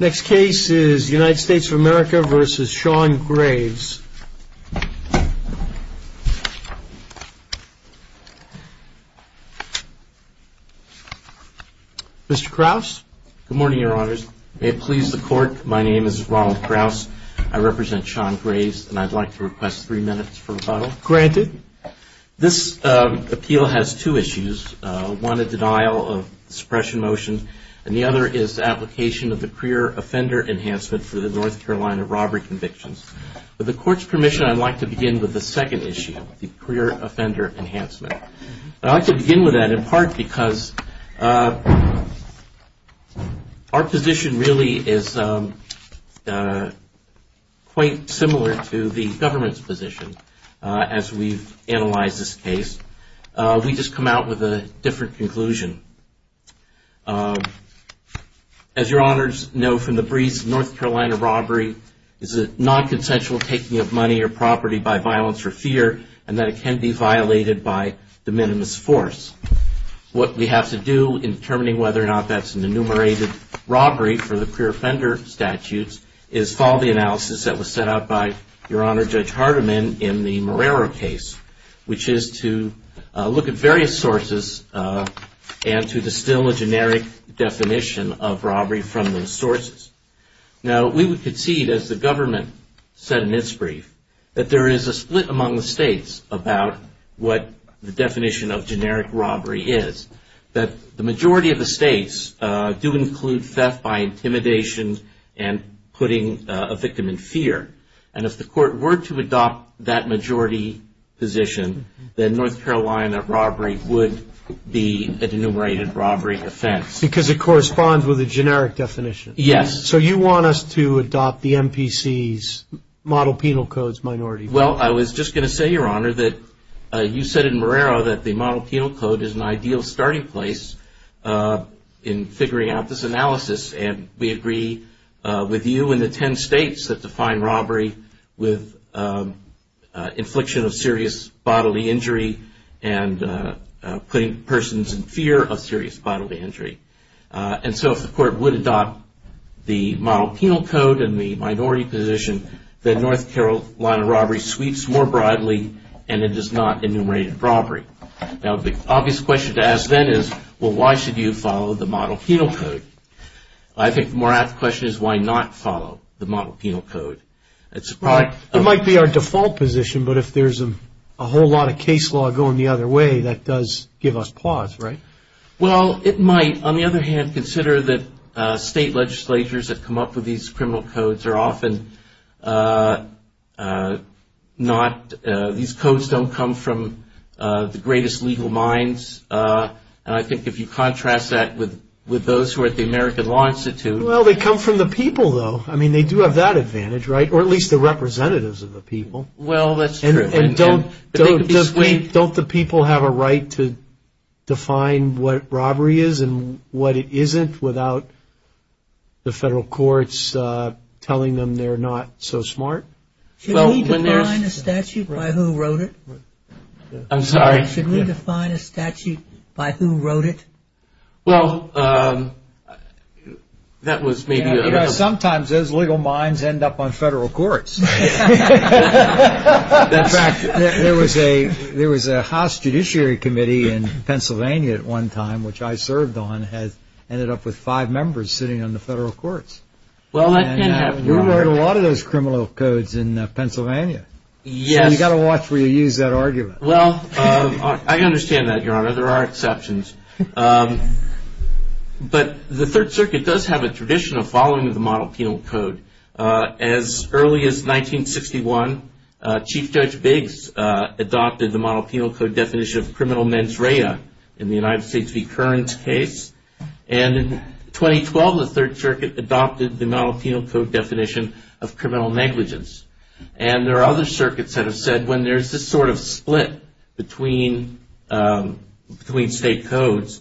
Next case is United States of America v. Sean Graves. Mr. Krause? Good morning, Your Honors. May it please the Court, my name is Ronald Krause. I represent Sean Graves, and I'd like to request three minutes for rebuttal. Granted. This appeal has two issues, one a denial of suppression motion, and the other is the application of the career offender enhancement for the North Carolina robbery convictions. With the Court's permission, I'd like to begin with the second issue, the career offender enhancement. I'd like to begin with that in part because our position really is quite similar to the government's position as we've analyzed this case. We've just come out with a different conclusion. As Your Honors know from the briefs, North Carolina robbery is a non-consensual taking of money or property by violence or fear, and that it can be violated by de minimis force. What we have to do in determining whether or not that's an enumerated robbery for the career offender statutes is follow the analysis that was set out by Your Honor Judge Hardiman in the Morero case, which is to look at various sources and to distill a generic definition of robbery from those sources. Now, we would concede, as the government said in its brief, that there is a split among the states about what the definition of generic robbery is, that the majority of the states do include theft by intimidation and putting a victim in fear. And if the Court were to adopt that majority position, then North Carolina robbery would be an enumerated robbery offense. Because it corresponds with a generic definition. Yes. So you want us to adopt the MPC's model penal codes minority? Well, I was just going to say, Your Honor, that you said in Morero that the model penal code is an ideal starting place in figuring out this analysis, and we agree with you and the ten states that define robbery with infliction of serious bodily injury and putting persons in fear of serious bodily injury. And so if the Court would adopt the model penal code and the minority position, then North Carolina robbery sweeps more broadly and it is not enumerated robbery. Now, the obvious question to ask then is, well, why should you follow the model penal code? I think the more apt question is, why not follow the model penal code? It might be our default position, but if there's a whole lot of case law going the other way, that does give us pause, right? Well, it might. On the other hand, consider that state legislatures that come up with these criminal codes are often not, these codes don't come from the greatest legal minds. And I think if you contrast that with those who are at the American Law Institute. Well, they come from the people, though. I mean, they do have that advantage, right? Or at least the representatives of the people. Well, that's true. And don't the people have a right to define what robbery is and what it isn't without the federal courts telling them they're not so smart? Should we define a statute by who wrote it? I'm sorry? Should we define a statute by who wrote it? Well, that was maybe a little. Sometimes those legal minds end up on federal courts. In fact, there was a House Judiciary Committee in Pennsylvania at one time, which I served on, ended up with five members sitting on the federal courts. Well, that can happen. And we wrote a lot of those criminal codes in Pennsylvania. Yes. So you've got to watch where you use that argument. Well, I understand that, Your Honor. There are exceptions. But the Third Circuit does have a tradition of following the model penal code. As early as 1961, Chief Judge Biggs adopted the model penal code definition of criminal mens rea in the United States v. Kearns case. And in 2012, the Third Circuit adopted the model penal code definition of criminal negligence. And there are other circuits that have said when there's this sort of split between state codes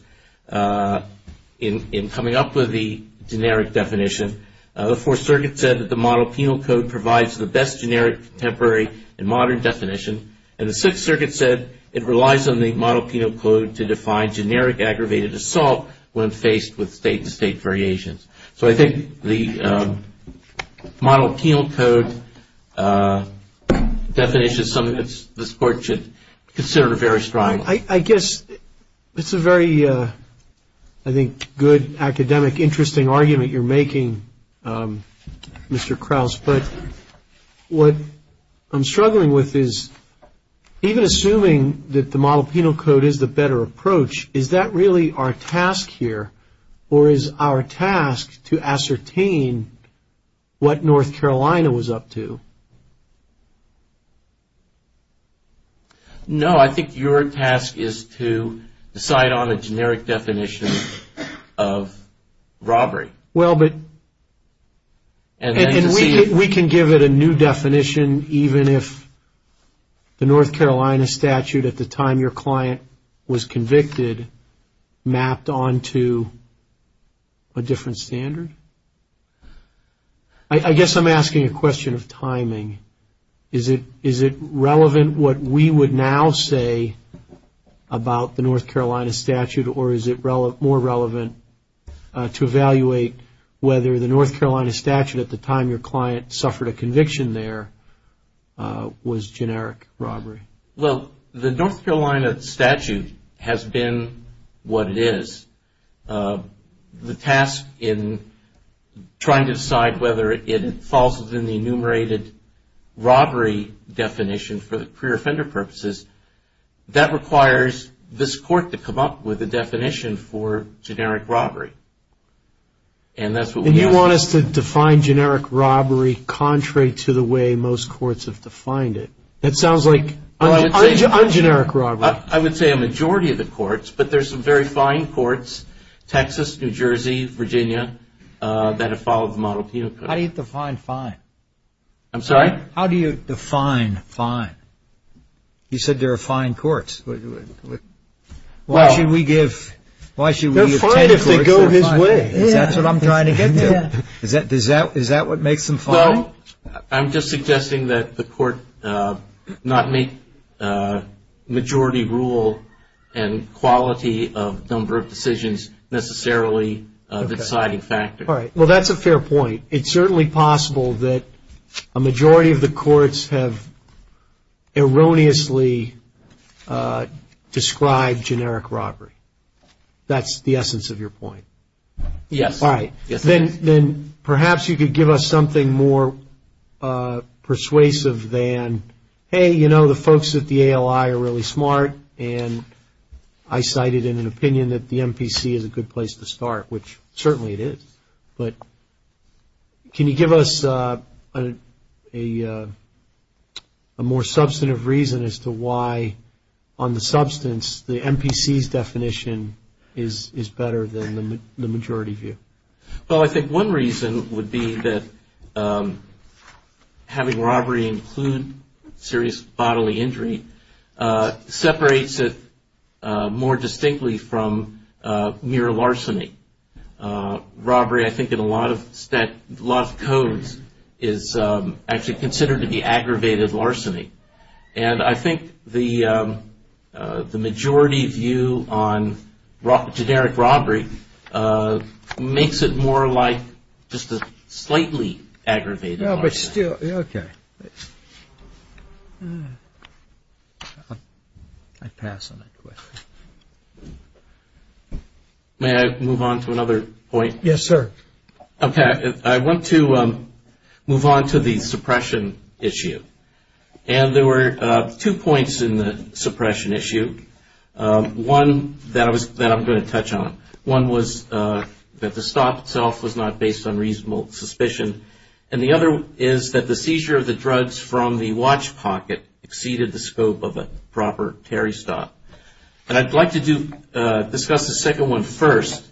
in coming up with the generic definition, the Fourth Circuit said that the model penal code provides the best generic contemporary and modern definition. And the Sixth Circuit said it relies on the model penal code to define generic aggravated assault when faced with state-to-state variations. So I think the model penal code definition is something that this Court should consider very strongly. I guess it's a very, I think, good, academic, interesting argument you're making, Mr. Krauss. But what I'm struggling with is even assuming that the model penal code is the better approach, is that really our task here or is our task to ascertain what North Carolina was up to? No, I think your task is to decide on a generic definition of robbery. Well, but we can give it a new definition even if the North Carolina statute, at the time your client was convicted, mapped on to a different standard. I guess I'm asking a question of timing. Is it relevant what we would now say about the North Carolina statute or is it more relevant to evaluate whether the North Carolina statute, at the time your client suffered a conviction there, was generic robbery? Well, the North Carolina statute has been what it is. The task in trying to decide whether it falls within the enumerated robbery definition for the career offender purposes, that requires this Court to come up with a definition for generic robbery. And you want us to define generic robbery contrary to the way most courts have defined it? That sounds like ungeneric robbery. I would say a majority of the courts, but there's some very fine courts, Texas, New Jersey, Virginia, that have followed the model penal code. How do you define fine? I'm sorry? How do you define fine? You said there are fine courts. Why should we give ten courts that are fine? Is that what I'm trying to get to? Is that what makes them fine? I'm just suggesting that the Court not make majority rule and quality of number of decisions necessarily the deciding factor. Well, that's a fair point. It's certainly possible that a majority of the courts have erroneously described generic robbery. That's the essence of your point. Yes. All right. Then perhaps you could give us something more persuasive than, hey, you know, the folks at the ALI are really smart, and I cite it in an opinion that the MPC is a good place to start, which certainly it is, but can you give us a more substantive reason as to why, on the substance, the MPC's definition is better than the majority view? Well, I think one reason would be that having robbery include serious bodily injury separates it more distinctly from mere larceny. Robbery, I think, in a lot of codes is actually considered to be aggravated larceny, and I think the majority view on generic robbery makes it more like just a slightly aggravated larceny. No, but still, okay. I pass on that question. May I move on to another point? Yes, sir. Okay. I want to move on to the suppression issue, and there were two points in the suppression issue, one that I'm going to touch on. One was that the stop itself was not based on reasonable suspicion, and the other is that the seizure of the drugs from the watch pocket exceeded the scope of a proper Terry stop. And I'd like to discuss the second one first,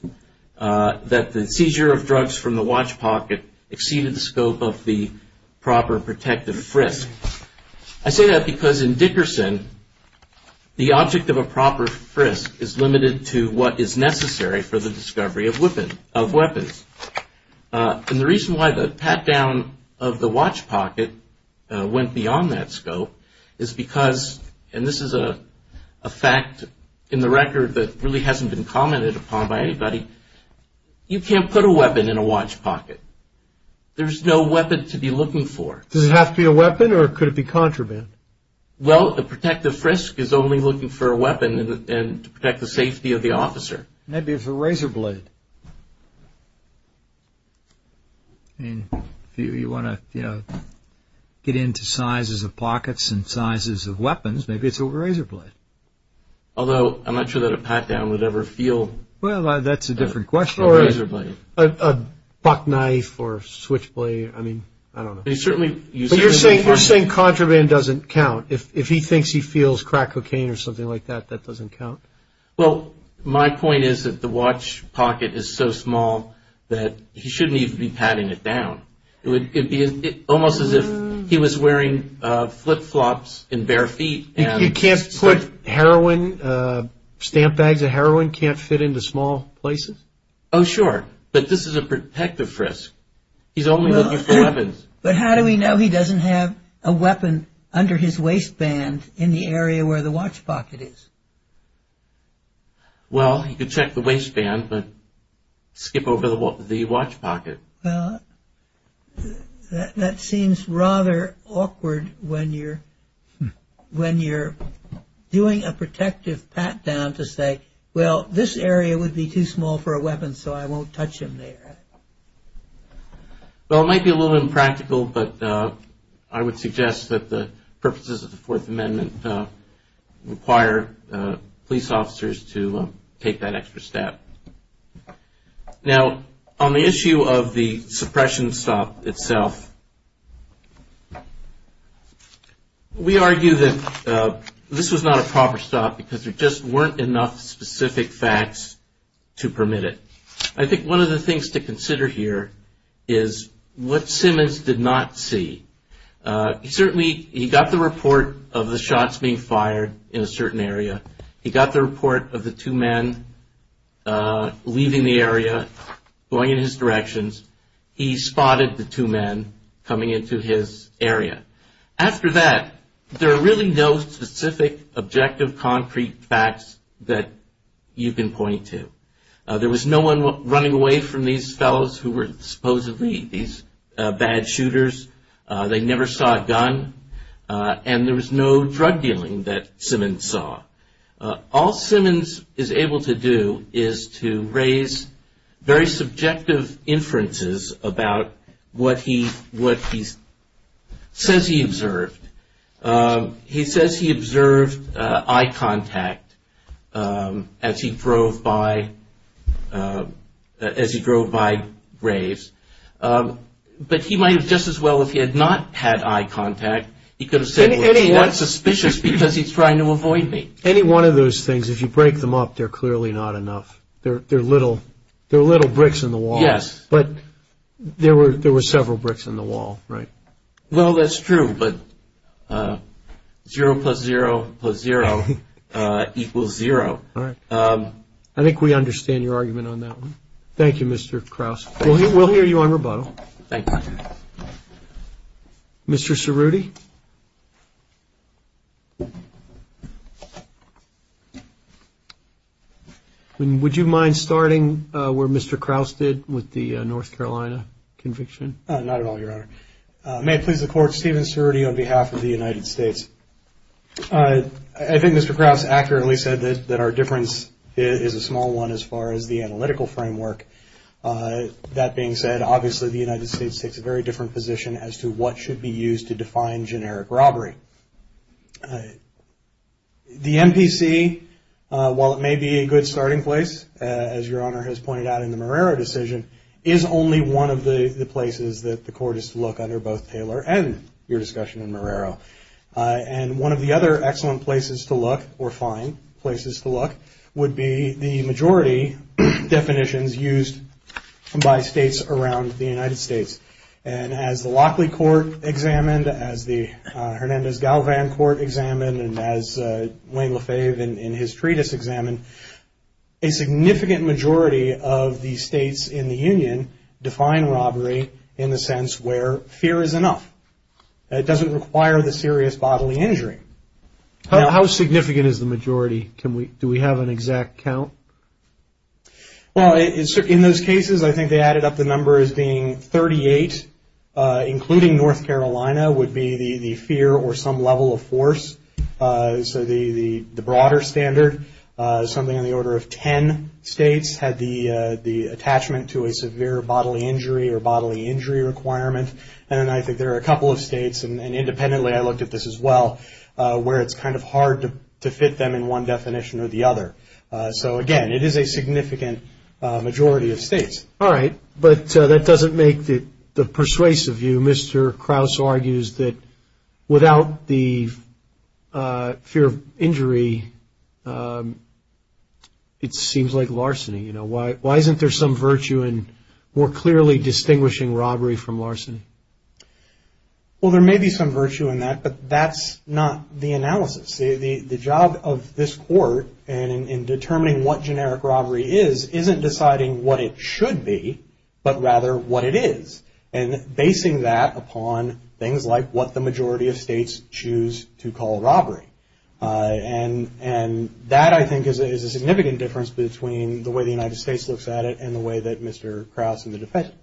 that the seizure of drugs from the watch pocket exceeded the scope of the proper protective frisk. I say that because in Dickerson, the object of a proper frisk is limited to what is necessary for the discovery of weapons. And the reason why the pat down of the watch pocket went beyond that scope is because, and this is a fact in the record that really hasn't been commented upon by anybody, you can't put a weapon in a watch pocket. There's no weapon to be looking for. Does it have to be a weapon, or could it be contraband? Well, a protective frisk is only looking for a weapon to protect the safety of the officer. Maybe it's a razor blade. If you want to get into sizes of pockets and sizes of weapons, maybe it's a razor blade. Although, I'm not sure that a pat down would ever feel a razor blade. Well, that's a different question. You're saying contraband doesn't count. If he thinks he feels crack cocaine or something like that, that doesn't count? Well, my point is that the watch pocket is so small that he shouldn't even be patting it down. It would be almost as if he was wearing flip-flops and bare feet. You can't put heroin, stamp bags of heroin can't fit into small places? Oh, sure. But this is a protective frisk. He's only looking for weapons. But how do we know he doesn't have a weapon under his waistband in the area where the watch pocket is? Well, you could check the waistband, but skip over the watch pocket. Well, that seems rather awkward when you're doing a protective pat down to say, well, this area would be too small for a weapon, so I won't touch him there. Well, it might be a little impractical, but I would suggest that the purposes of the Fourth Amendment require police officers to take that extra step. Now, on the issue of the suppression stop itself, we argue that this was not a proper stop because there just weren't enough specific facts to permit it. I think one of the things to consider here is what Simmons did not see. Certainly, he got the report of the shots being fired in a certain area. He got the report of the two men leaving the area, going in his directions. He spotted the two men coming into his area. After that, there are really no specific objective concrete facts that you can point to. There was no one running away from these fellows who were supposedly these bad shooters. They never saw a gun, and there was no drug dealing that Simmons saw. All Simmons is able to do is to raise very subjective inferences about what he says he observed. He says he observed eye contact as he drove by graves, but he might have just as well, if he had not had eye contact, he could have said, well, he's not suspicious because he's trying to avoid me. Any one of those things, if you break them up, they're clearly not enough. They're little bricks in the wall. Yes. But there were several bricks in the wall, right? Well, that's true, but zero plus zero plus zero equals zero. All right. I think we understand your argument on that one. Thank you, Mr. Krause. We'll hear you on rebuttal. Thank you. Mr. Cerruti, would you mind starting where Mr. Krause did with the North Carolina conviction? Not at all, Your Honor. May it please the Court, Stephen Cerruti on behalf of the United States. I think Mr. Krause accurately said that our difference is a small one as far as the analytical framework. That being said, obviously the United States takes a very different position as to what should be used to define generic robbery. The MPC, while it may be a good starting place, as Your Honor has pointed out in the Marrero decision, is only one of the places that the Court is to look under both Taylor and your discussion in Marrero. And one of the other excellent places to look, or fine places to look, would be the majority definitions used by states around the United States. And as the Lockley Court examined, as the Hernandez-Galvan Court examined, and as Wayne LaFave in his treatise examined, a significant majority of the states in the Union define robbery in the sense where fear is enough. It doesn't require the serious bodily injury. How significant is the majority? Do we have an exact count? Well, in those cases, I think they added up the number as being 38, including North Carolina would be the fear or some level of force. So the broader standard, something on the order of 10 states, had the attachment to a severe bodily injury or bodily injury requirement. And I think there are a couple of states, and independently I looked at this as well, where it's kind of hard to fit them in one definition or the other. So, again, it is a significant majority of states. All right. But that doesn't make the persuasive view, Mr. Krause argues, that without the fear of injury, it seems like larceny. You know, why isn't there some virtue in more clearly distinguishing robbery from larceny? Well, there may be some virtue in that, but that's not the analysis. The job of this court in determining what generic robbery is, isn't deciding what it should be, but rather what it is, and basing that upon things like what the majority of states choose to call robbery. And that, I think, is a significant difference between the way the United States looks at it and the way that Mr. Krause and the defendant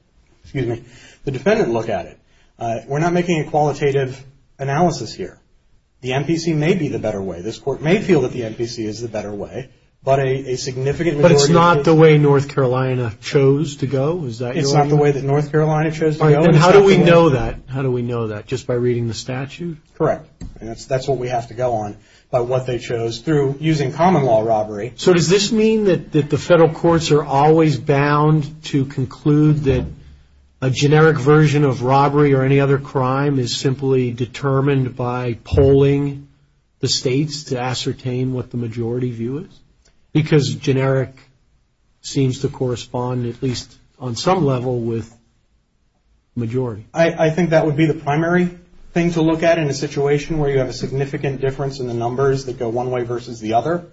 look at it. We're not making a qualitative analysis here. The MPC may be the better way. This court may feel that the MPC is the better way, but a significant majority of states. But it's not the way North Carolina chose to go? Is that your argument? It's not the way that North Carolina chose to go. All right. And how do we know that? How do we know that? Just by reading the statute? Correct. And that's what we have to go on about what they chose through using common law robbery. So does this mean that the federal courts are always bound to conclude that a generic version of robbery or any other crime is simply determined by polling the states to ascertain what the majority view is? Because generic seems to correspond, at least on some level, with majority. I think that would be the primary thing to look at in a situation where you have a significant difference in the numbers that go one way versus the other.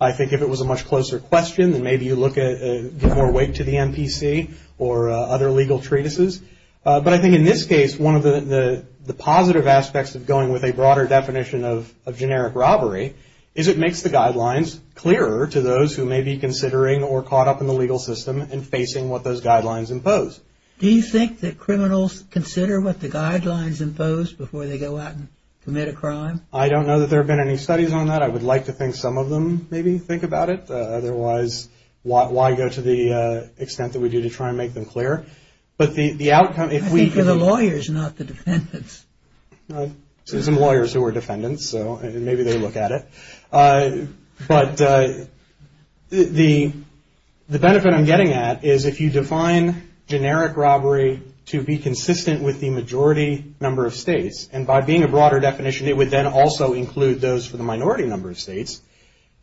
I think if it was a much closer question, then maybe you look at more weight to the MPC or other legal treatises. But I think in this case, one of the positive aspects of going with a broader definition of generic robbery is it makes the guidelines clearer to those who may be considering or caught up in the legal system and facing what those guidelines impose. Do you think that criminals consider what the guidelines impose before they go out and commit a crime? I don't know that there have been any studies on that. I would like to think some of them maybe think about it. Otherwise, why go to the extent that we do to try and make them clear? But the outcome if we... I think for the lawyers, not the defendants. There are some lawyers who are defendants, so maybe they look at it. But the benefit I'm getting at is if you define generic robbery to be consistent with the majority number of states, and by being a broader definition, it would then also include those for the minority number of states,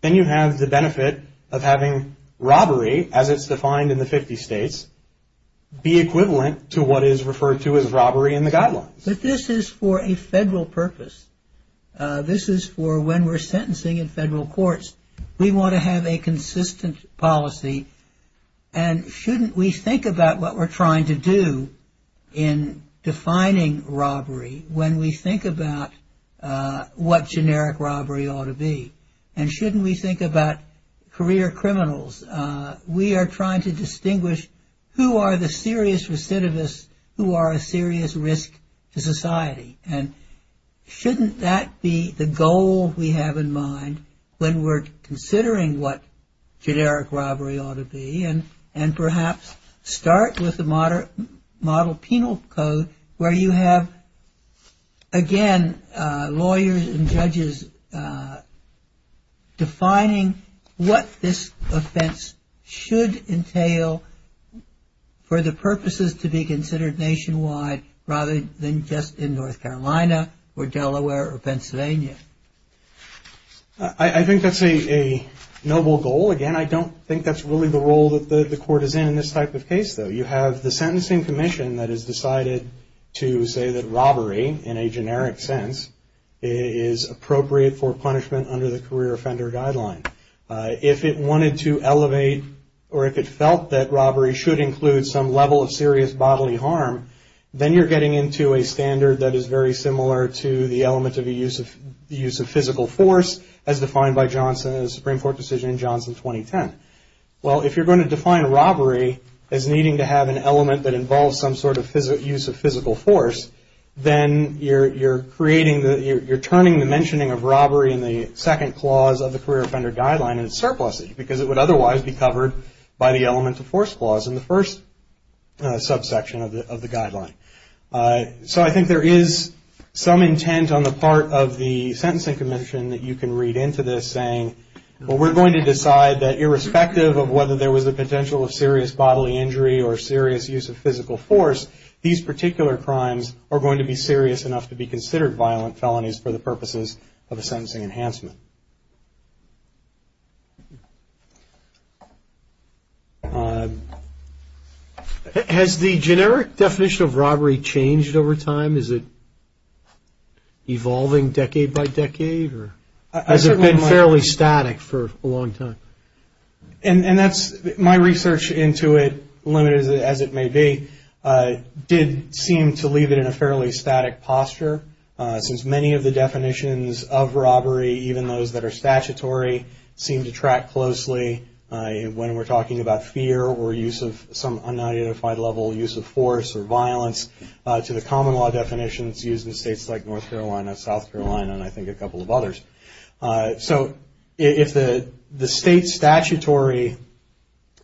then you have the benefit of having robbery, as it's defined in the 50 states, be equivalent to what is referred to as robbery in the guidelines. But this is for a federal purpose. This is for when we're sentencing in federal courts. We want to have a consistent policy. And shouldn't we think about what we're trying to do in defining robbery when we think about what generic robbery ought to be? And shouldn't we think about career criminals? We are trying to distinguish who are the serious recidivists, who are a serious risk to society. And shouldn't that be the goal we have in mind when we're considering what generic robbery ought to be? And perhaps start with the model penal code where you have, again, lawyers and judges defining what this offense should entail for the purposes to be considered nationwide rather than just in North Carolina or Delaware or Pennsylvania. I think that's a noble goal. Again, I don't think that's really the role that the court is in in this type of case, though. You have the sentencing commission that has decided to say that robbery, in a generic sense, is appropriate for punishment under the career offender guideline. If it wanted to elevate or if it felt that robbery should include some level of serious bodily harm, then you're getting into a standard that is very similar to the element of the use of physical force as defined by Johnson in the Supreme Court decision in Johnson 2010. Well, if you're going to define robbery as needing to have an element that involves some sort of use of physical force, then you're turning the mentioning of robbery in the second clause of the career offender guideline into surpluses because it would otherwise be covered by the element of force clause in the first subsection of the guideline. So I think there is some intent on the part of the sentencing commission that you can read into this saying, well, we're going to decide that irrespective of whether there was a potential of serious bodily injury or serious use of physical force, these particular crimes are going to be serious enough to be considered violent felonies for the purposes of a sentencing enhancement. Has the generic definition of robbery changed over time? Is it evolving decade by decade or has it been fairly static for a long time? And that's my research into it, limited as it may be, did seem to leave it in a fairly static posture. Since many of the definitions of robbery, even those that are statutory, seem to track closely when we're talking about fear or use of some unidentified level use of force or violence to the common law definitions used in states like North Carolina, South Carolina, and I think a couple of others. So if the state statutory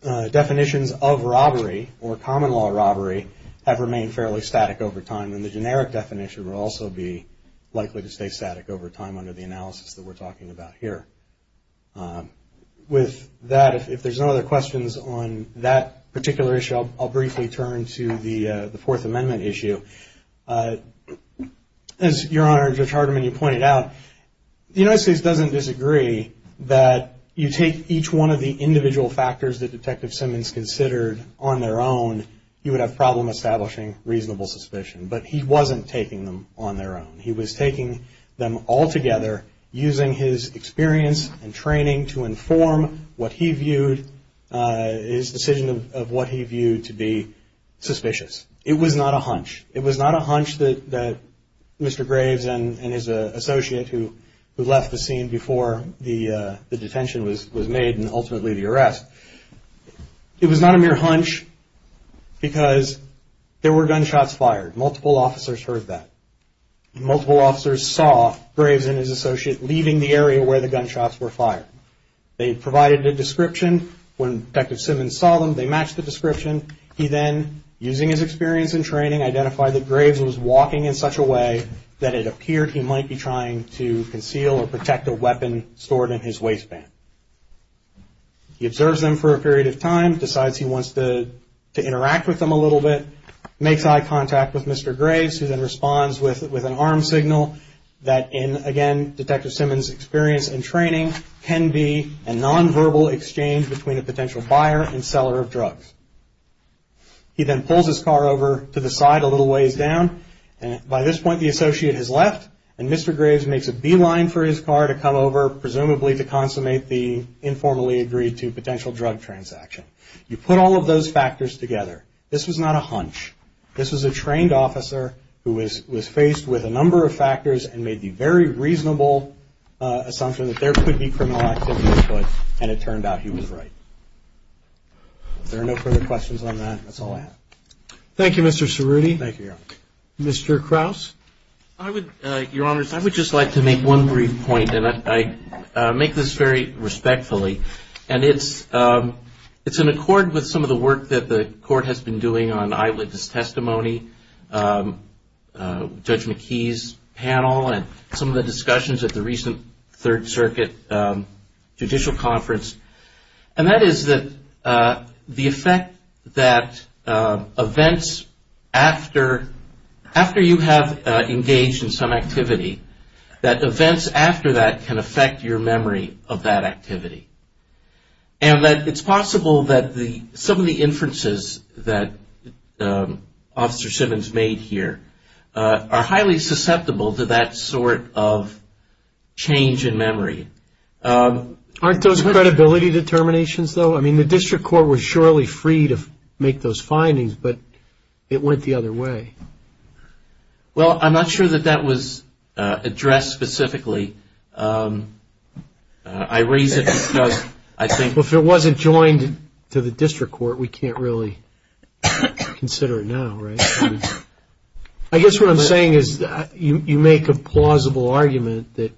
definitions of robbery or common law robbery have remained fairly static over time, then the generic definition will also be likely to stay static over time under the analysis that we're talking about here. With that, if there's no other questions on that particular issue, I'll briefly turn to the Fourth Amendment issue. As Your Honor, Judge Hardiman, you pointed out, the United States doesn't disagree that you take each one of the individual factors that Detective Simmons considered on their own, you would have a problem establishing reasonable suspicion. But he wasn't taking them on their own. He was taking them all together using his experience and training to inform what he viewed, his decision of what he viewed to be suspicious. It was not a hunch. It was not a hunch that Mr. Graves and his associate who left the scene before the detention was made and ultimately the arrest. It was not a mere hunch because there were gunshots fired. Multiple officers heard that. Multiple officers saw Graves and his associate leaving the area where the gunshots were fired. They provided a description. When Detective Simmons saw them, they matched the description. He then, using his experience and training, identified that Graves was walking in such a way that it appeared he might be trying to conceal or protect a weapon stored in his waistband. He observes them for a period of time, decides he wants to interact with them a little bit, makes eye contact with Mr. Graves who then responds with an arm signal that in, again, He then pulls his car over to the side a little ways down. By this point, the associate has left and Mr. Graves makes a beeline for his car to come over, presumably to consummate the informally agreed to potential drug transaction. You put all of those factors together. This was not a hunch. This was a trained officer who was faced with a number of factors and made the very reasonable assumption that there could be criminal activity at foot and it turned out he was right. If there are no further questions on that, that's all I have. Thank you, Mr. Cerruti. Thank you, Your Honor. Mr. Krause? Your Honors, I would just like to make one brief point and I make this very respectfully. And it's in accord with some of the work that the Court has been doing on eyewitness testimony, Judge McKee's panel, and some of the discussions at the recent Third Circuit Judicial Conference. And that is that the effect that events after you have engaged in some activity, that events after that can affect your memory of that activity. And that it's possible that some of the inferences that Officer Simmons made here are highly susceptible to that sort of change in memory. Aren't those credibility determinations, though? I mean, the District Court was surely free to make those findings, but it went the other way. Well, I'm not sure that that was addressed specifically. I raise it because I think... Well, if it wasn't joined to the District Court, we can't really consider it now, right? I guess what I'm saying is that you make a plausible argument that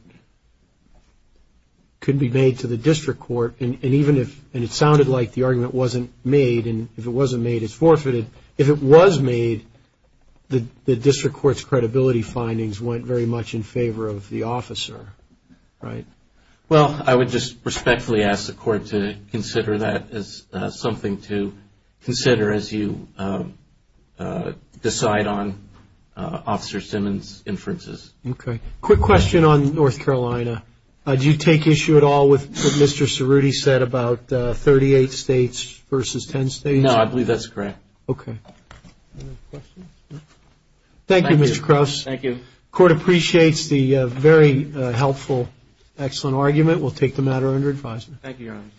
could be made to the District Court, and even if it sounded like the argument wasn't made, and if it wasn't made, it's forfeited. If it was made, the District Court's credibility findings went very much in favor of the officer, right? Well, I would just respectfully ask the Court to consider that as something to consider as you decide on Officer Simmons' inferences. Okay. Quick question on North Carolina. Do you take issue at all with what Mr. Cerruti said about 38 states versus 10 states? No, I believe that's correct. Okay. Thank you, Mr. Crouse. Thank you. Court appreciates the very helpful, excellent argument. We'll take the matter under advisement. Thank you, Your Honor.